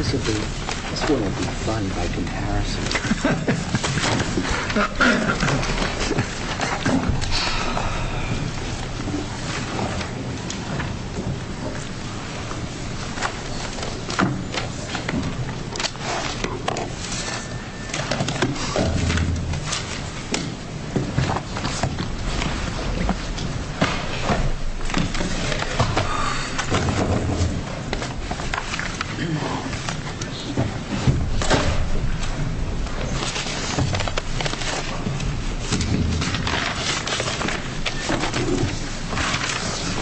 This wouldn't be fun by comparison. I'm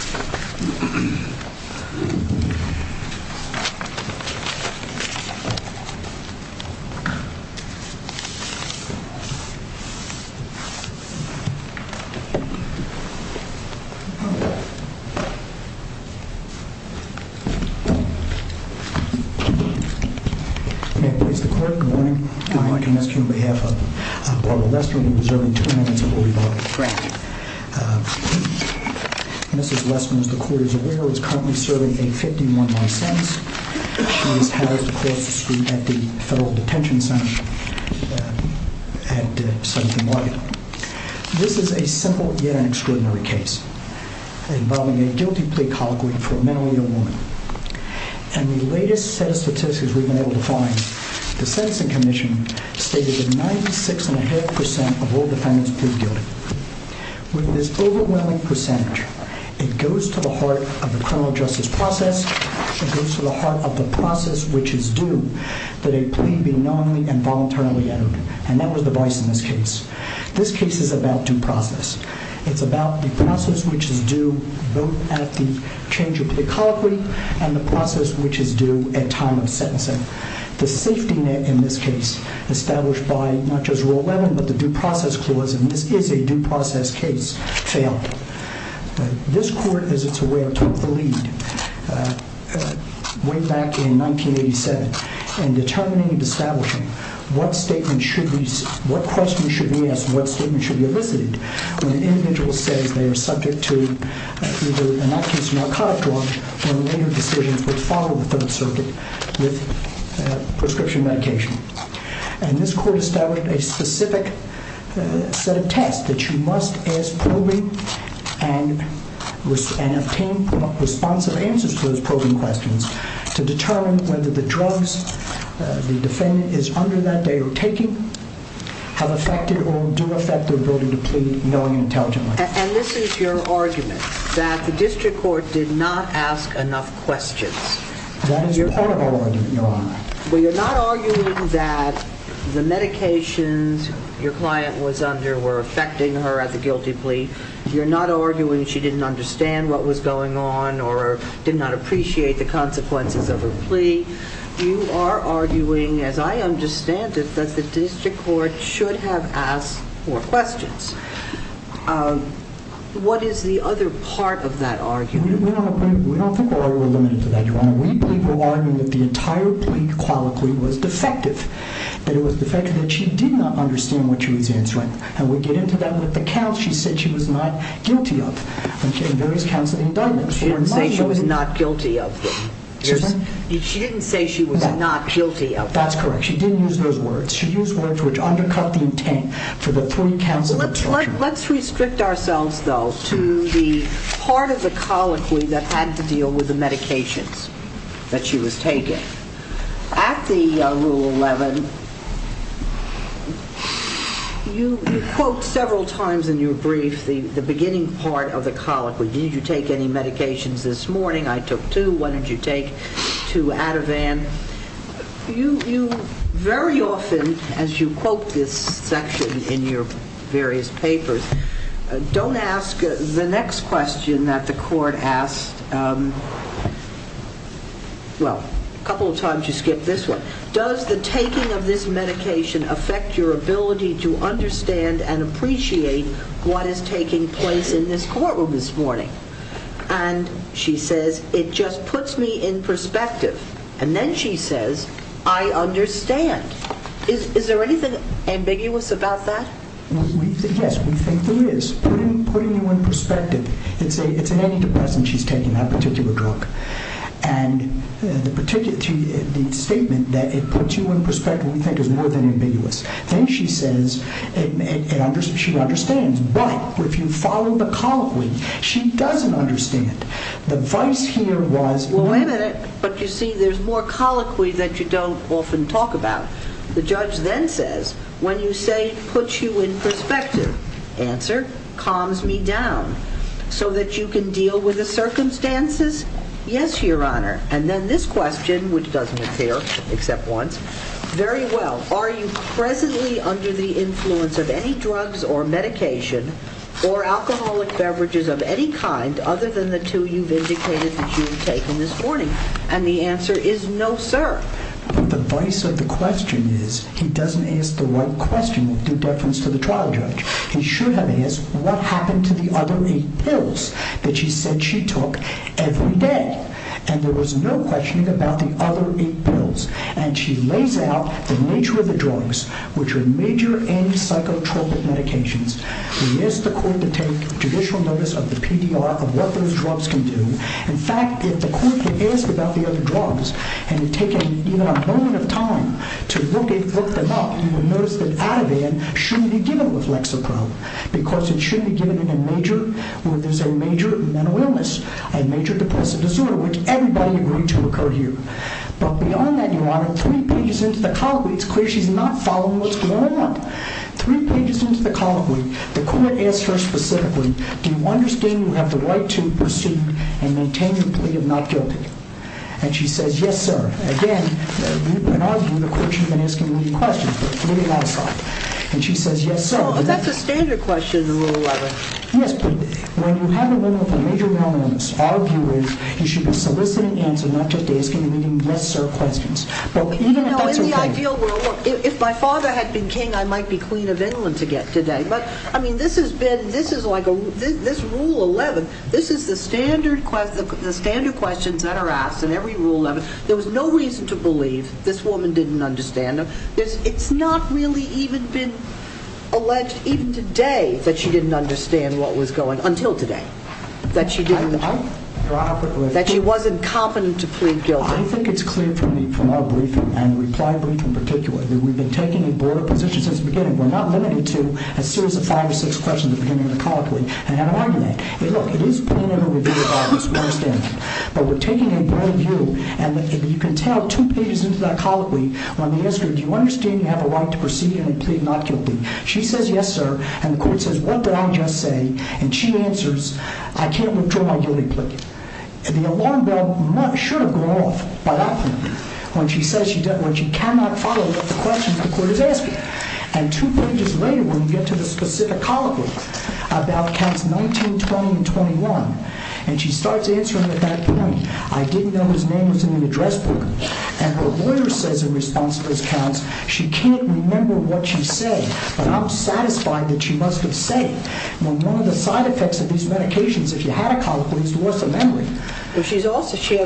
going to ask you on behalf of Barbara Lester to reserve two minutes before we vote. This is a simple yet extraordinary case involving a guilty plea colloquy for a mentally ill woman. And the latest set of statistics we've been able to find, the Sentencing Commission stated that 96.5% of all defendants proved guilty. With this overwhelming percentage, it goes to the heart of the criminal justice process, it goes to the heart of the process which is due that a plea be knowingly and voluntarily uttered. And that was the vice in this case. This case is about due process. It's about the process which is due both at the change of plea colloquy and the process which is due at time of sentencing. The safety net in this case, established by not just Rule 11 but the Due Process Clause, and this is a due process case, failed. This court, as it's aware, took the lead way back in 1987 in determining and establishing what questions should be asked and what statements should be elicited when an individual says they are subject to either, in that case, narcotic drugs or later decisions which follow the Third Circuit with prescription medication. And this court established a specific set of tests that you must ask probing and obtain responsive answers to those probing questions to determine whether the drugs the defendant is under that day or taking have affected or do affect their ability to plead knowingly and intelligently. And this is your argument, that the district court did not ask enough questions. That is your part of our argument, Your Honor. Well, you're not arguing that the medications your client was under were affecting her at the guilty plea. You're not arguing she didn't understand what was going on or did not appreciate the consequences of her plea. You are arguing, as I understand it, that the district court should have asked more questions. What is the other part of that argument? We don't think we're limited to that, Your Honor. We believe you're arguing that the entire plea, qualically, was defective. That it was defective, that she did not understand what she was answering. And we get into that with the counts she said she was not guilty of, in various counts of the indictment. She didn't say she was not guilty of them. Excuse me? She didn't say she was not guilty of them. That's correct. She didn't use those words. She used words which undercut the intent for the three counts of the instruction. Let's restrict ourselves, though, to the part of the colloquy that had to deal with the medications that she was taking. At the Rule 11, you quote several times in your brief the beginning part of the colloquy. Did you take any medications this morning? I took two. What did you take? Two Ativan. You very often, as you quote this section in your various papers, don't ask the next question that the court asked. Well, a couple of times you skipped this one. Does the taking of this medication affect your ability to understand and appreciate what is taking place in this courtroom this morning? And she says, it just puts me in perspective. And then she says, I understand. Is there anything ambiguous about that? Yes, we think there is. Putting you in perspective. It's an antidepressant she's taking, that particular drug. And the statement that it puts you in perspective we think is more than ambiguous. Then she says, she understands. But if you follow the colloquy, she doesn't understand. The vice here was Well, wait a minute. But you see, there's more colloquy that you don't often talk about. The judge then says, when you say puts you in perspective, answer, calms me down. So that you can deal with the circumstances? Yes, Your Honor. And then this question, which doesn't appear except once. Very well. Are you presently under the influence of any drugs or medication or alcoholic beverages of any kind other than the two you've indicated that you've taken this morning? And the answer is no, sir. The vice of the question is, he doesn't ask the right question of due deference to the trial judge. He should have asked, what happened to the other eight pills that she said she took every day? And there was no questioning about the other eight pills. And she lays out the nature of the drugs, which are major anti-psychotropic medications. He asked the court to take judicial notice of the PDR, of what those drugs can do. In fact, if the court could ask about the other drugs, and had taken even a moment of time to look them up, you would notice that Ativan shouldn't be given with Lexapro. Because it shouldn't be given in a major, where there's a major mental illness. A major depressive disorder, which everybody agreed to occur here. But beyond that, your honor, three pages into the colloquy, it's clear she's not following what's going on. Three pages into the colloquy, the court asks her specifically, do you understand you have the right to pursue and maintain your plea of not guilty? And she says, yes, sir. Again, you can argue the court should have been asking you these questions, but leave it outside. And she says, yes, sir. But that's a standard question in Rule 11. Yes, but when you have a woman with a major mental illness, our view is, you should be soliciting answers, not just asking her yes, sir questions. In the ideal world, if my father had been king, I might be queen of England to get today. But, I mean, this is like Rule 11. This is the standard questions that are asked in every Rule 11. There was no reason to believe this woman didn't understand them. It's not really even been alleged, even today, that she didn't understand what was going on, until today. Your Honor, quickly. That she wasn't competent to plead guilty. I think it's clear from our briefing, and reply brief in particular, that we've been taking a broader position since the beginning. We're not limited to a series of five or six questions at the beginning of the colloquy. And I'm arguing that. Look, it is plain and reviewed arguments. We understand that. But we're taking a broader view. And you can tell two pages into that colloquy when they ask her, do you understand you have a right to pursue and plead not guilty? She says, yes, sir. And the court says, what did I just say? And she answers, I can't withdraw my guilty plea. And the alarm bell should have gone off by that point, when she says she cannot follow the questions the court is asking. And two pages later, when you get to the specific colloquy about Counts 19, 20, and 21, and she starts answering at that point, I didn't know his name was in the address book. And her lawyer says in response to those counts, she can't remember what she said. But I'm satisfied that she must have said it. One of the side effects of these medications, if you had a colloquy, is worse than memory. But she had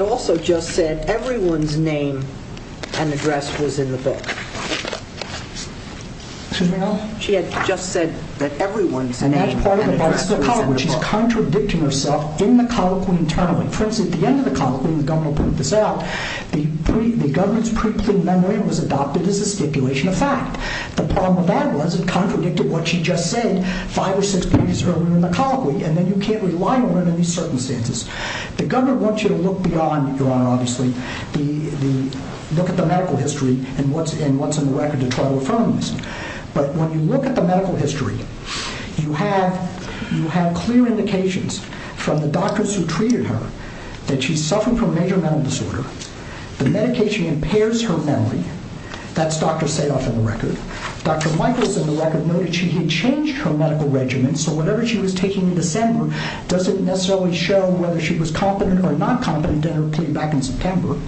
also just said everyone's name and address was in the book. Excuse me? She had just said that everyone's name and address was in the book. And that's part of the bias of the colloquy. She's contradicting herself in the colloquy internally. For instance, at the end of the colloquy, and the governor will prove this out, the governor's pre-plead memory was adopted as a stipulation of fact. The problem with that was it contradicted what she just said five or six pages earlier in the colloquy. And then you can't rely on her in these circumstances. The governor wants you to look beyond, Your Honor, obviously, look at the medical history and what's in the record to try to affirm this. But when you look at the medical history, you have clear indications from the doctors who treated her that she suffered from a major mental disorder. The medication impairs her memory. That's Dr. Sadoff in the record. Dr. Michaels in the record noted she had changed her medical regimen, so whatever she was taking in December doesn't necessarily show whether she was competent or not competent in her plea back in September.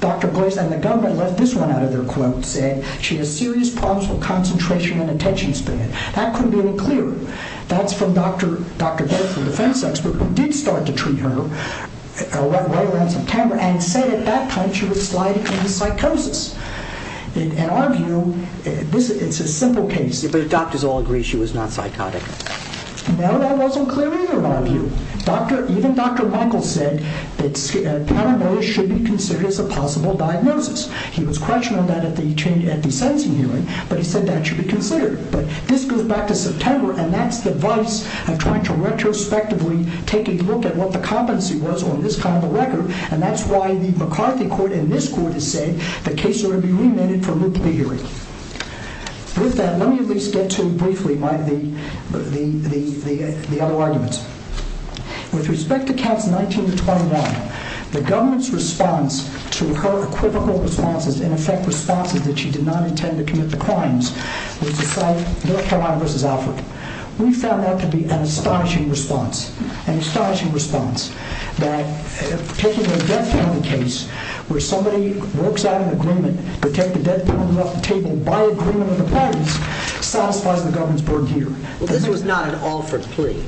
Dr. Boyce and the governor left this one out of their quote, said she had serious problems with concentration and attention span. That couldn't be any clearer. That's from Dr. Boyce, the defense expert, who did start to treat her right around September and said at that point she was sliding into psychosis. In our view, it's a simple case. But the doctors all agree she was not psychotic. No, that wasn't clear either in our view. Even Dr. Michaels said that paranoia should be considered as a possible diagnosis. He was questioning that at the sentencing hearing, but he said that should be considered. But this goes back to September, and that's the vice of trying to retrospectively take a look at what the competency was on this kind of a record, and that's why the McCarthy court and this court have said the case ought to be remanded for Luke Biggery. With that, let me at least get to briefly the other arguments. With respect to counts 19 to 21, the government's response to her equivocal responses, in effect responses that she did not intend to commit the crimes, was to cite North Carolina v. Alfred. We found that to be an astonishing response. An astonishing response. That taking the death penalty case, where somebody works out an agreement to take the death penalty off the table by agreement of the parties, satisfies the government's burden here. This was not an Alfred plea.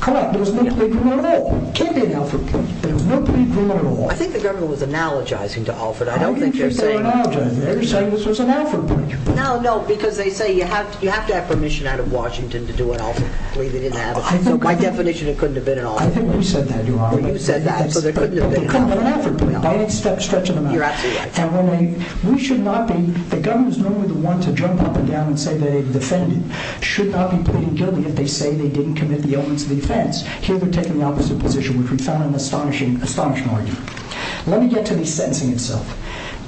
Correct. It was no plea agreement at all. It can't be an Alfred plea. There was no plea agreement at all. I think the government was analogizing to Alfred. I don't think they're saying... I don't think they're saying analogizing. They're saying this was an Alfred plea. No, no, because they say you have to have permission out of Washington to do an Alfred plea. They didn't have it. So by definition, it couldn't have been an Alfred plea. I think you said that, Your Honor. You said that. It couldn't have been an Alfred plea. By any stretch of the mountain. You're absolutely right. We should not be... The government is normally the one to jump up and down and say they defended, should not be pleading guilty if they say they didn't commit the elements of the offense. Here they're taking the opposite position, which we found an astonishing argument. Let me get to the sentencing itself.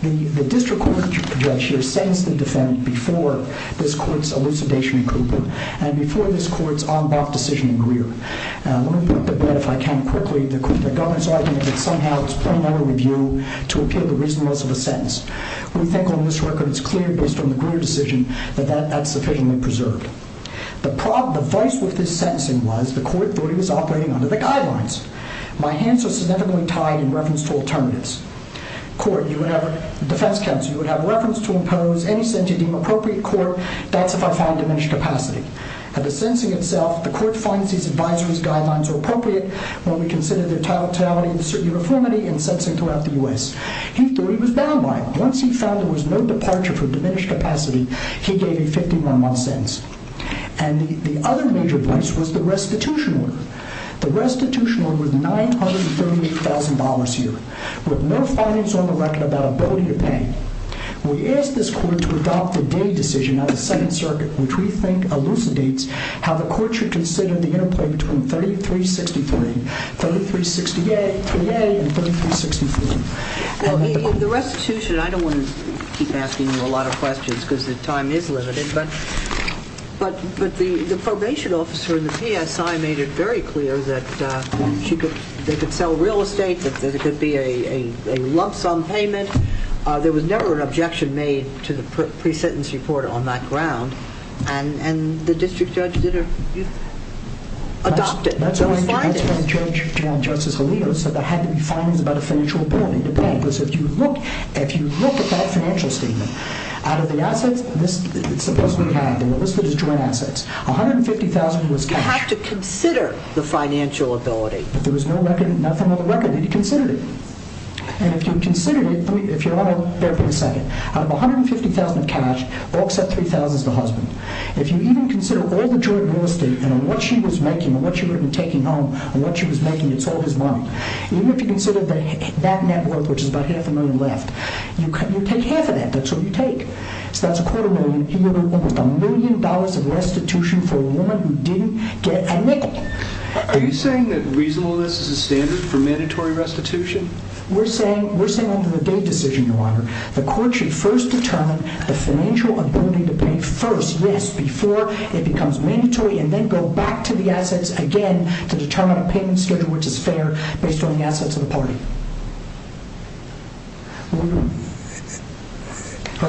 The district court that you project here sentenced the defendant before this court's elucidation in Cooper and before this court's en bas decision in Greer. Let me break the bed, if I can, quickly. The governor's argument is somehow it's plain over review to appeal the reasonableness of a sentence. We think on this record it's clear, based on the Greer decision, that that's sufficiently preserved. The vice with this sentencing was the court thought he was operating under the guidelines. My hands are significantly tied in reference to alternatives. Court, you would have... Defense counsel, you would have reference to impose any sentencing appropriate court, that's if I find diminished capacity. At the sentencing itself, the court finds these advisory guidelines are appropriate when we consider their totality and uniformity in sentencing throughout the U.S. He thought he was bound by it. Once he found there was no departure for diminished capacity, he gave a 51-month sentence. And the other major price was the restitution order. The restitution order was $938,000 a year, with no finance on the record about ability to pay. We asked this court to adopt the Day decision of the Second Circuit, which we think elucidates how the court should consider the interplay between 3363, 3368, and 3363. The restitution... I don't want to keep asking you a lot of questions because the time is limited, but the probation officer in the PSI made it very clear that they could sell real estate, that there could be a lump sum payment. There was never an objection made to the pre-sentence report on that ground, and the district judge adopted those findings. That's why the judge, Justice Alito, said there had to be findings about a financial ability to pay because if you look at that financial statement, out of the assets, it's supposed to be had, they were listed as joint assets, $150,000 was cash. You have to consider the financial ability. But there was no record, nothing on the record. You had to consider it. And if you considered it, if you want to bear for a second, out of $150,000 of cash, all except $3,000 is the husband. If you even consider all the joint real estate and what she was making and what she would have been taking home and what she was making, it's all his money. Even if you consider that net worth, which is about half a million left, you take half of that. That's what you take. So that's a quarter million. He would have almost a million dollars of restitution for a woman who didn't get a nickel. Are you saying that reasonableness is a standard for mandatory restitution? We're saying under the Dave decision, Your Honor, the court should first determine the financial ability to pay first. Yes, before it becomes mandatory and then go back to the assets again to determine a payment schedule which is fair based on the assets of the party.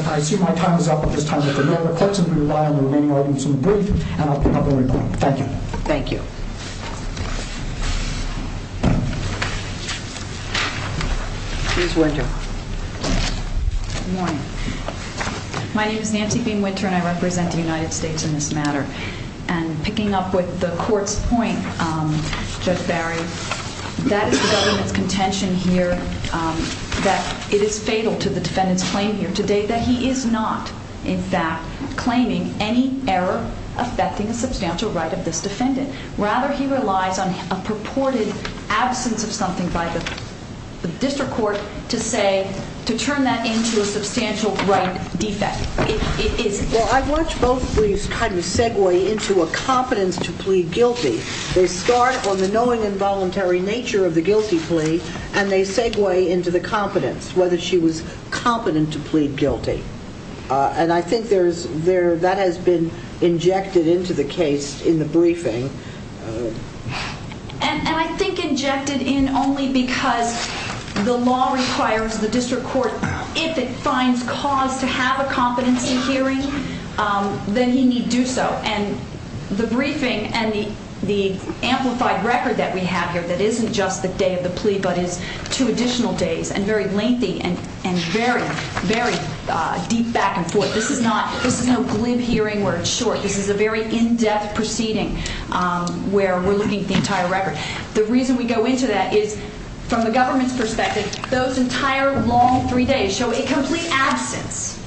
I assume my time is up at this time. If there are no other questions, we rely on the remaining arguments in the brief, and I'll pick up where we left off. Thank you. Thank you. Please, Winter. Good morning. My name is Nancy Bean Winter, and I represent the United States in this matter. And picking up with the court's point, Judge Barry, that is the government's contention here that it is fatal to the defendant's claim here today that he is not, in fact, claiming any error affecting a substantial right of this defendant, rather he relies on a purported absence of something by the district court to say, to turn that into a substantial right defect. Well, I watch both briefs kind of segue into a competence to plead guilty. They start on the knowing and voluntary nature of the guilty plea, and they segue into the competence, whether she was competent to plead guilty. And I think that has been injected into the case in the briefing. And I think injected in only because the law requires the district court, if it finds cause to have a competency hearing, then he need do so. And the briefing and the amplified record that we have here that isn't just the day of the plea, but is two additional days, and very lengthy and very, very deep back and forth. This is not, this is no glib hearing where it's short. This is a very in-depth proceeding where we're looking at the entire record. The reason we go into that is, from the government's perspective, those entire long three days show a complete absence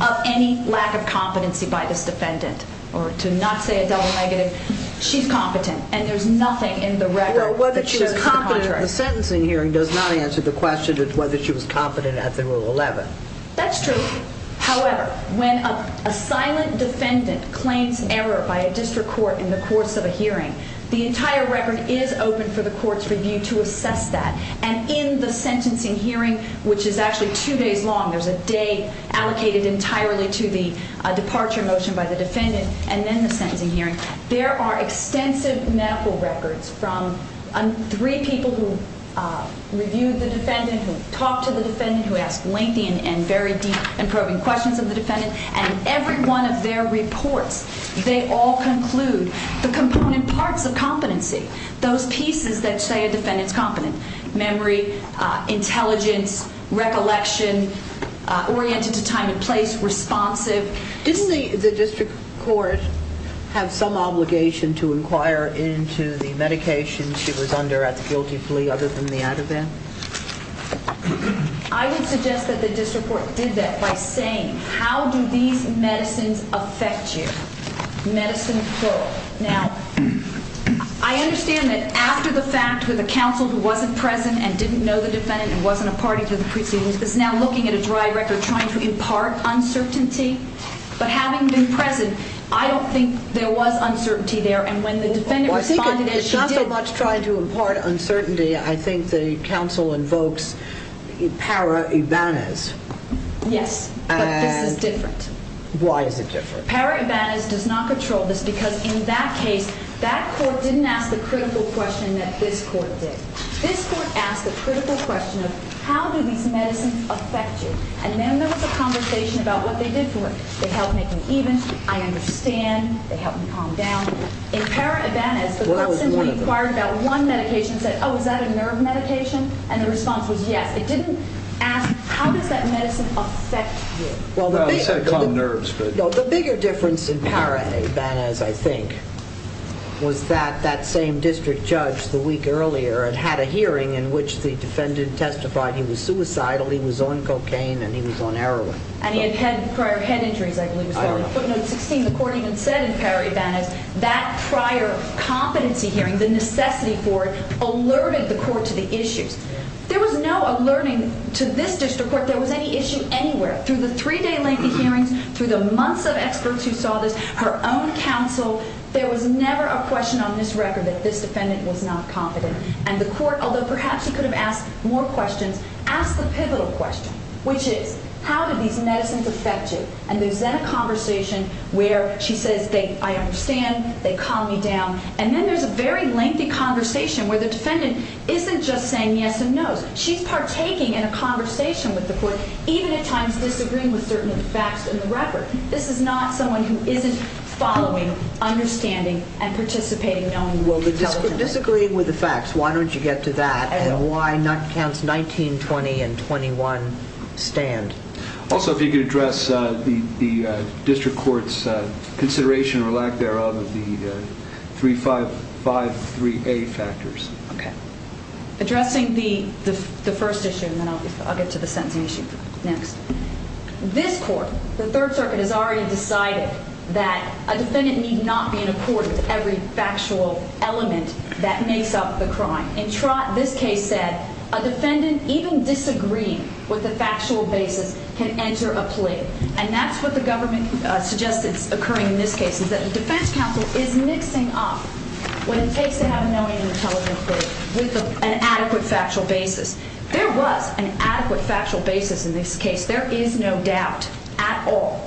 of any lack of competency by this defendant. Or to not say a double negative, she's competent, and there's nothing in the record that shows the contrary. Well, whether she was competent in the sentencing hearing does not answer the question of whether she was competent at the Rule 11. That's true. However, when a silent defendant claims error by a district court in the course of a hearing, the entire record is open for the court's review to assess that. And in the sentencing hearing, which is actually two days long, there's a day allocated entirely to the departure motion by the defendant, and then the sentencing hearing, there are extensive medical records from three people who reviewed the defendant, who talked to the defendant, who asked lengthy and very deep and probing questions of the defendant. And in every one of their reports, they all conclude the component parts of competency, those pieces that say a defendant's competent. Memory, intelligence, recollection, oriented to time and place, responsive. Doesn't the district court have some obligation to inquire into the medication she was under at the guilty plea other than the Ativan? I would suggest that the district court did that by saying, how do these medicines affect you? Medicine, quote. Now, I understand that after the fact with the counsel who wasn't present and didn't know the defendant and wasn't a party to the proceedings, is now looking at a dry record trying to impart uncertainty. But having been present, I don't think there was uncertainty there. And when the defendant responded as she did... Well, I think it's not so much trying to impart uncertainty. I think the counsel invokes para-Ibanez. Yes, but this is different. Why is it different? Para-Ibanez does not control this because in that case, that court didn't ask the critical question that this court did. This court asked the critical question of, how do these medicines affect you? And then there was a conversation about what they did for her. They helped make me even. I understand. They helped me calm down. In para-Ibanez, the court simply inquired about one medication and said, oh, is that a nerve medication? And the response was yes. It didn't ask, how does that medicine affect you? Well, it said calm nerves, but... The bigger difference in para-Ibanez, I think, was that that same district judge the week earlier had had a hearing in which the defendant testified he was suicidal, he was on cocaine, and he was on heroin. And he had prior head injuries, I believe. I don't know. The court even said in para-Ibanez that prior competency hearing, the necessity for it, alerted the court to the issues. There was no alerting to this district court. There was any issue anywhere. Through the three-day lengthy hearings, through the months of experts who saw this, her own counsel, there was never a question on this record that this defendant was not confident. And the court, although perhaps he could have asked more questions, asked the pivotal question, which is, how did these medicines affect you? And there's then a conversation where she says, I understand. They calmed me down. And then there's a very lengthy conversation where the defendant isn't just saying yes and no. She's partaking in a conversation with the court, even at times disagreeing with certain facts in the record. This is not someone who isn't following, understanding, and participating knowingly. Disagreeing with the facts. Why don't you get to that? And why not counts 19, 20, and 21 stand? Also, if you could address the district court's consideration, or lack thereof, of the 3553A factors. Okay. Addressing the first issue, and then I'll get to the sentencing issue next. This court, the Third Circuit, has already decided that a defendant need not be in a court with every factual element that makes up the crime. In Trott, this case said, a defendant, even disagreeing with the factual basis, can enter a plea. And that's what the government suggested as it's occurring in this case, is that the defense counsel is mixing up what it takes to have a knowingly intelligent plea with an adequate factual basis. There was an adequate factual basis in this case. There is no doubt at all.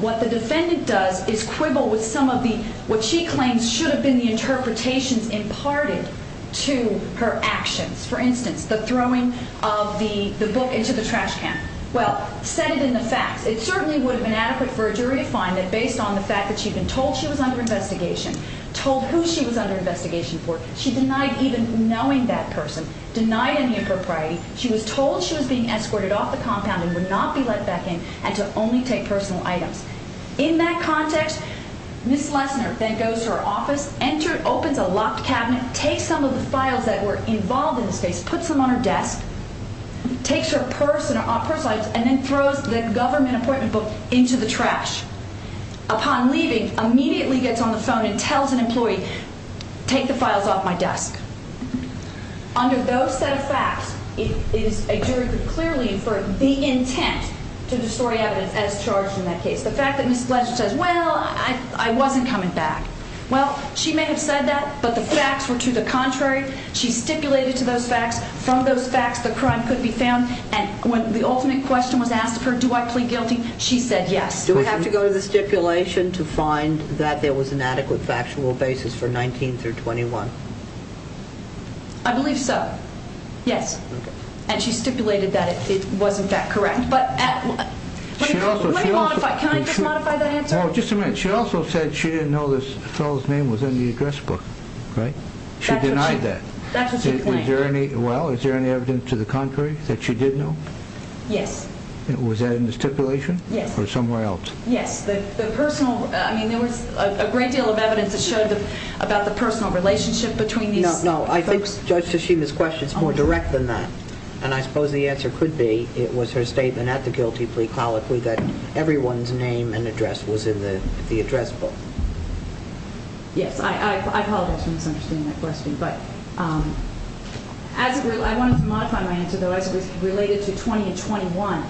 What the defendant does is quibble with some of the, what she claims should have been the interpretations imparted to her actions. For instance, the throwing of the book into the trash can. Well, set it in the facts. It certainly would have been adequate for a jury to find that, based on the fact that she'd been told she was under investigation, told who she was under investigation for, she denied even knowing that person, denied any impropriety, she was told she was being escorted off the compound and would not be let back in, and to only take personal items. In that context, Ms. Lesner then goes to her office, opens a locked cabinet, takes some of the files that were involved in this case, puts them on her desk, takes her personal items, and then throws the government appointment book into the trash. Upon leaving, immediately gets on the phone and tells an employee, take the files off my desk. Under those set of facts, it is a jury could clearly infer the intent to distort evidence as charged in that case. The fact that Ms. Lesner says, well, I wasn't coming back. Well, she may have said that, but the facts were to the contrary. She stipulated to those facts. From those facts, the crime could be found. And when the ultimate question was asked of her, do I plead guilty? She said yes. Do we have to go to the stipulation to find that there was an adequate factual basis for 19 through 21? I believe so. Yes. And she stipulated that it was, in fact, correct. But... Can I just modify that answer? Just a minute. She also said she didn't know this fellow's name was in the address book. Right? She denied that. That's what she claimed. Well, is there any evidence to the contrary that she did know? Yes. Was that in the stipulation? Yes. Or somewhere else? Yes. The personal... I mean, there was a great deal of evidence that showed about the personal relationship between these folks. No, no. I think Judge Tashima's question is more direct than that. And I suppose the answer could be it was her statement at the guilty plea colloquy that everyone's name and address was in the address book. Yes. I apologize for misunderstanding that question. But... I wanted to modify my answer, though, because it was related to 20 and 21.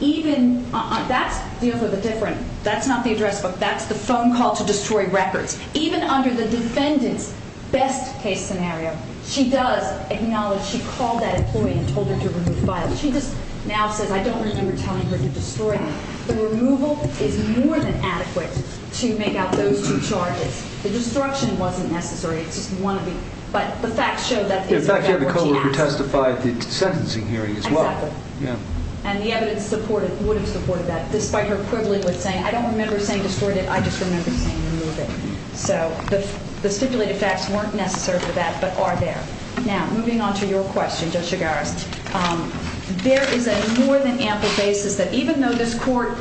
Even... That's the other... The different... That's not the address book. That's the phone call to destroy records. Even under the defendant's best-case scenario, she does acknowledge she called that employee and told her to remove files. She just now says, I don't remember telling her to destroy them. The removal is more than adequate to make out those two charges. The destruction wasn't necessary. It's just one of the... But the facts show that... In fact, the co-worker testified at the sentencing hearing as well. Exactly. Yeah. And the evidence supported... Would have supported that despite her quibbling with saying, I don't remember saying destroy it. I just remember saying remove it. So the stipulated facts weren't necessary for that, but are there. Now, moving on to your question, Judge Chigares, there is a more than ample basis that even though this court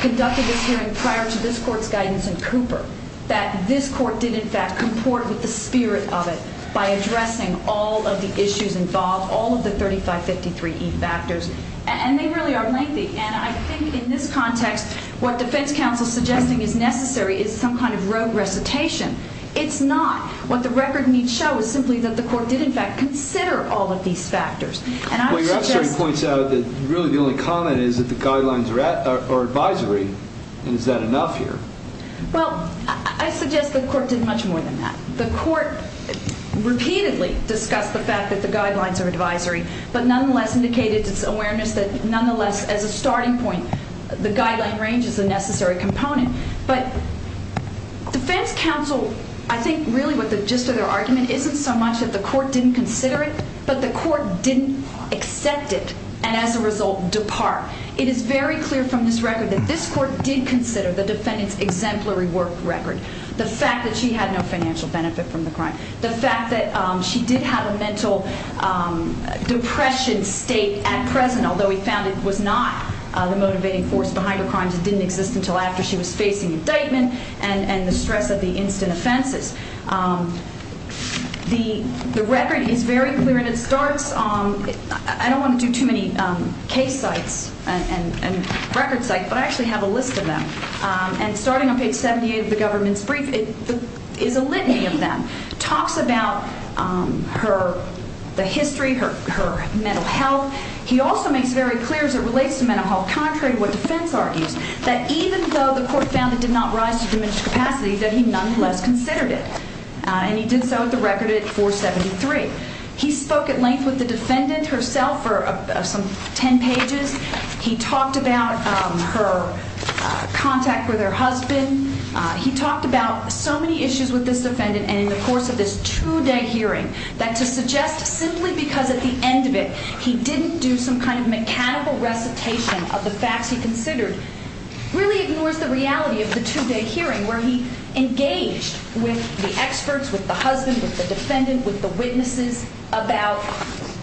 conducted this hearing prior to this court's guidance in Cooper, that this court did, in fact, comport with the spirit of it by addressing all of the issues involved, all of the 3553E factors. And they really are lengthy. And I think in this context, what defense counsel is suggesting is necessary is some kind of rogue recitation. It's not. What the record needs to show is simply that the court did, in fact, consider all of these factors. And I would suggest... Well, your repertory points out that really the only comment is that the guidelines are advisory. And is that enough here? Well, I suggest the court did much more than that. The court repeatedly discussed the fact that the guidelines are advisory, but nonetheless indicated its awareness that nonetheless, as a starting point, the guideline range is a necessary component. But defense counsel, I think really what the gist of their argument isn't so much that the court didn't consider it, but the court didn't accept it and as a result depart. It is very clear from this record that this court did consider the defendant's exemplary work record. The fact that she had no financial benefit from the crime. The fact that she did have a mental depression state at present, although we found it was not the motivating force behind her crimes. It didn't exist until after she was facing indictment and the stress of the instant offenses. The record is very clear and it starts... I don't want to do too many case sites and record sites, but I actually have a list of them. And starting on page 78 of the government's brief, it is a litany of them. It talks about the history, her mental health. He also makes it very clear as it relates to mental health, contrary to what defense argues, that even though the court found it did not rise to diminished capacity, that he nonetheless considered it. And he did so at the record at 473. He spoke at length with the defendant herself for some 10 pages. He talked about her contact with her husband. He talked about so many issues with this defendant and in the course of this two-day hearing that to suggest simply because at the end of it he didn't do some kind of mechanical recitation of the facts he considered really ignores the reality of the two-day hearing where he engaged with the experts, with the husband, with the defendant, with the witnesses about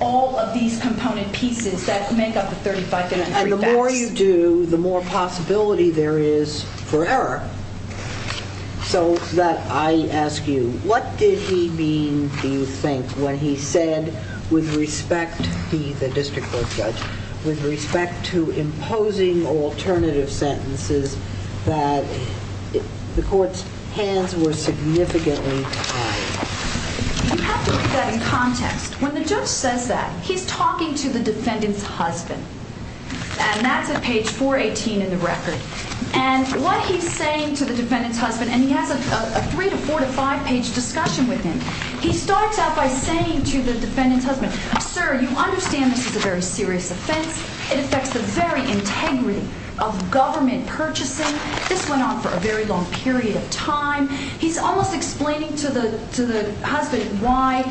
all of these component pieces that make up the 3,503 facts. And the more you do, the more possibility there is for error. So that I ask you, what did he mean, do you think, when he said with respect to the district court judge, with respect to imposing alternative sentences that the court's hands were significantly tied? You have to put that in context. When the judge says that, he's talking to the defendant's husband. And that's at page 418 in the record. And what he's saying to the defendant's husband, and he has a 3 to 4 to 5 page discussion with him, he starts out by saying to the defendant's husband, Sir, you understand this is a very serious offense. It affects the very integrity of government purchasing. This went on for a very long period of time. He's almost explaining to the husband why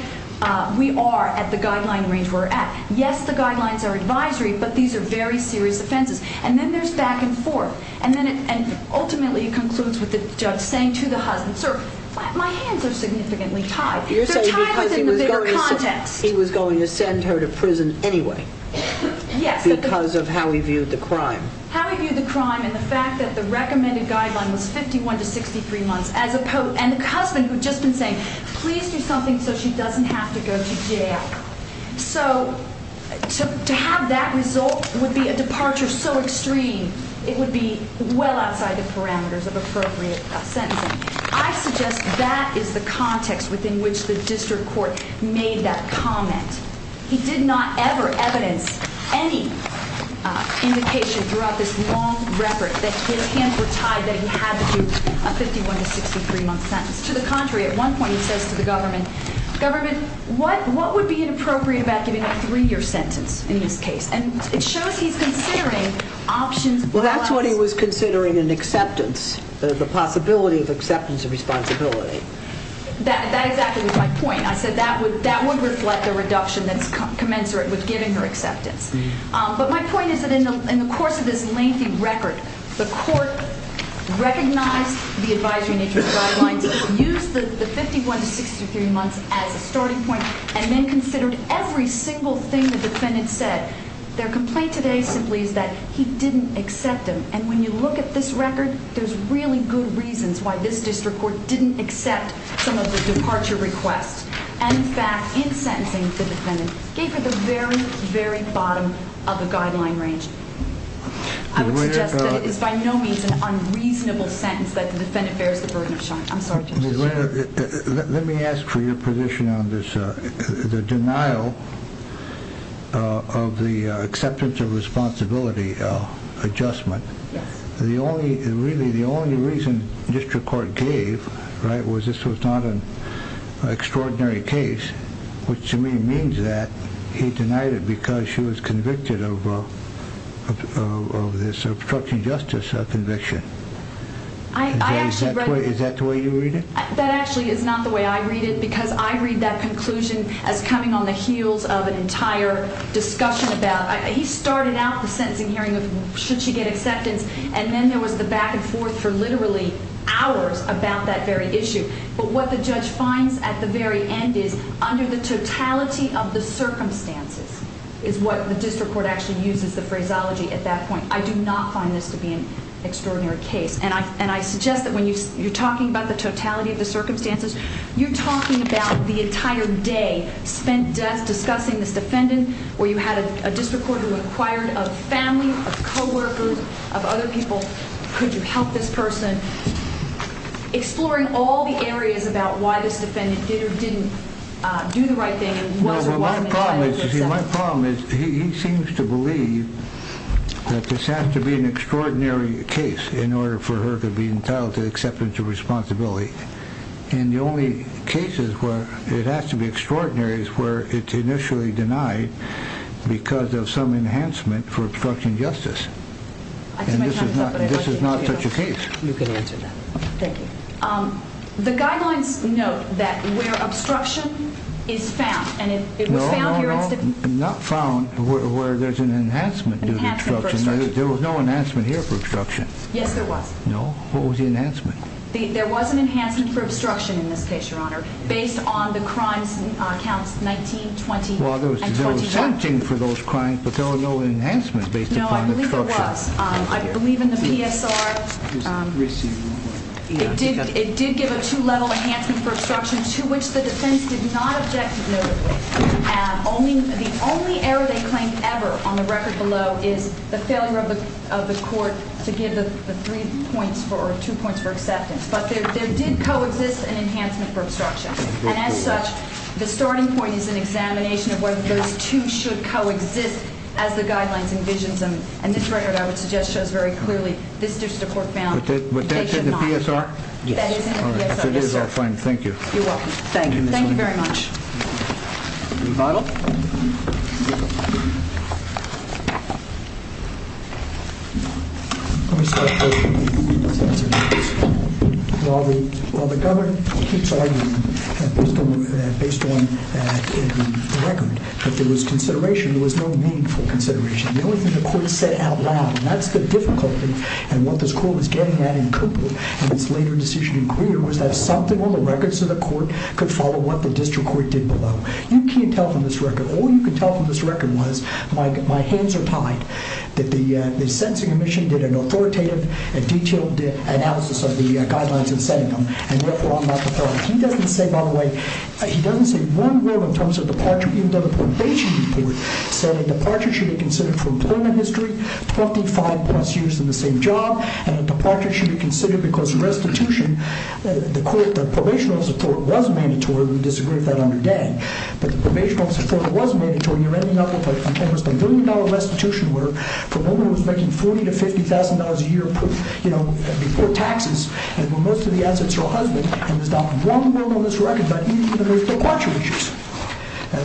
we are at the guideline range we're at. Yes, the guidelines are advisory, but these are very serious offenses. And then there's back and forth. And ultimately it concludes with the judge saying to the husband, Sir, my hands are significantly tied. They're tied within the bigger context. He was going to send her to prison anyway because of how he viewed the crime. How he viewed the crime and the fact that the recommended guideline was 51 to 63 months. And the husband had just been saying, please do something so she doesn't have to go to jail. So to have that result would be a departure so extreme it would be well outside the parameters of appropriate sentencing. I suggest that is the context within which the district court made that comment. He did not ever evidence any indication throughout this long record that his hands were tied, that he had to do a 51 to 63 month sentence. To the contrary, at one point he says to the government, Government, what would be inappropriate about giving a three year sentence in this case? And it shows he's considering options. Well, that's what he was considering in acceptance, the possibility of acceptance of responsibility. That exactly was my point. I said that would reflect the reduction that's commensurate with giving her acceptance. But my point is that in the course of this lengthy record, the court recognized the advisory nature of the guidelines, used the 51 to 63 months as a starting point, and then considered every single thing the defendant said Their complaint today simply is that he didn't accept them. And when you look at this record, there's really good reasons why this district court didn't accept some of the departure requests. In fact, in sentencing, the defendant gave her the very, very bottom of the guideline range. I would suggest that it is by no means an unreasonable sentence that the defendant bears the burden of shock. I'm sorry. Let me ask for your position on this. The denial of the acceptance of responsibility adjustment, the only reason district court gave was this was not an extraordinary case, which to me means that he denied it because she was convicted of this obstruction of justice conviction. Is that the way you read it? That actually is not the way I read it because I read that conclusion as coming on the heels of an entire discussion about... He started out the sentencing hearing with should she get acceptance? And then there was the back and forth for literally hours about that very issue. But what the judge finds at the very end is under the totality of the circumstances is what the district court actually uses the phraseology at that point. I do not find this to be an extraordinary case. And I suggest that when you're talking about the totality of the circumstances, you're talking about the entire day spent discussing this defendant where you had a district court who acquired of family, of co-workers, of other people. Could you help this person? Exploring all the areas about why this defendant did or didn't do the right thing. My problem is he seems to believe that this has to be an extraordinary case in order for her to be entitled to acceptance of responsibility. And the only cases where it has to be extraordinary is where it's initially denied because of some enhancement for obstruction of justice. And this is not such a case. You can answer that. Thank you. The guidelines note that where obstruction is found and it was found here in... Not found where there's an enhancement due to obstruction. Yes, there was. No? What was the enhancement? There was an enhancement for obstruction in this case, Your Honor, based on the crimes counts 19, 20, and 21. Well, there was no exempting for those crimes, but there were no enhancements based upon obstruction. No, I believe there was. I believe in the PSR. It did give a two-level enhancement for obstruction to which the defense did not object to, notably. And the only error they claimed ever on the record below is the failure of the court to give the three points or two points for acceptance. But there did coexist an enhancement for obstruction. And as such, the starting point is an examination of whether those two should coexist as the guidelines envision them. And this record, I would suggest, shows very clearly this district court found they should not. But that's in the PSR? That is in the PSR, yes, sir. All right. If it is, I'm fine. Thank you. You're welcome. Thank you. Thank you very much. Is it final? Let me start by saying this. While the government keeps arguing, based on the record, that there was consideration, there was no meaningful consideration. The only thing the court said out loud, and that's the difficulty, and what this court was getting at in Cooper in its later decision in Greer, was that something on the records of the court could follow what the district court did below. All you can tell from this record was, my hands are tied, that the sentencing commission did an authoritative, detailed analysis of the guidelines in setting them, and, therefore, I'm not the first. He doesn't say, by the way, he doesn't say one word in terms of departure, even though the probation report said a departure should be considered for employment history, 25 plus years in the same job, and a departure should be considered because restitution, the court, the probation office of the court was mandatory, we disagree with that under Dan, but the probation office of the court was mandatory, and you're ending up with almost a billion dollar restitution where, for a moment, it was making $40,000 to $50,000 a year, you know, before taxes, and most of the assets are a husband, and there's not one word on this record about even the most precautionary issues.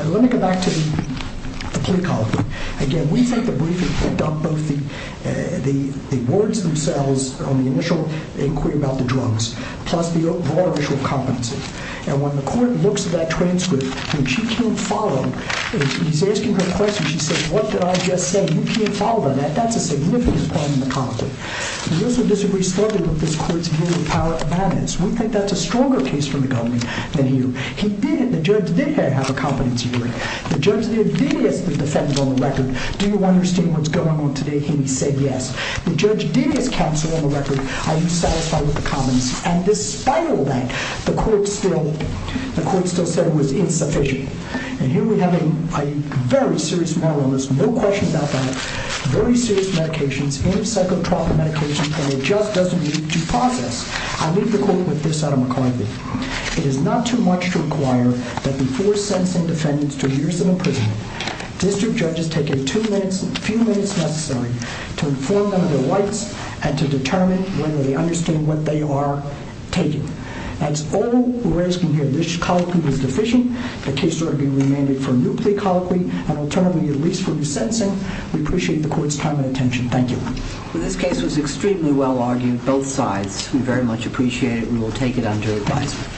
Let me go back to the plea column. Again, we think the briefing picked up both the words themselves on the initial inquiry about the drugs, plus the broader issue of competency, and when the court looks at that transcript, and she can't follow, and he's asking her questions, and she says, what did I just say? You can't follow that. That's a significant part of the conflict. We also disagree strongly with this court's view of the power of evidence. We think that's a stronger case for the government than you. He did, the judge did have a competency brief. The judge did ask the defense on the record, do you understand what's going on today? He said yes. The judge did ask counsel on the record, are you satisfied with the comments? And despite all that, the court still said it was insufficient, and here we have a very serious matter on this, no question about that, very serious medications, antipsychotropic medications, and it just doesn't need to process. I leave the court with this, Adam McCarthy. It is not too much to require that before sentencing defendants to years of imprisonment, district judges take a few minutes necessary to inform them of their rights and to determine whether they understand what they are taking. That's all we're asking here. This colloquy was deficient. The case will be remanded for a new plea colloquy, and alternatively released for new sentencing. We appreciate the court's time and attention. Thank you. This case was extremely well argued, both sides. We very much appreciate it. We will take it under advisement.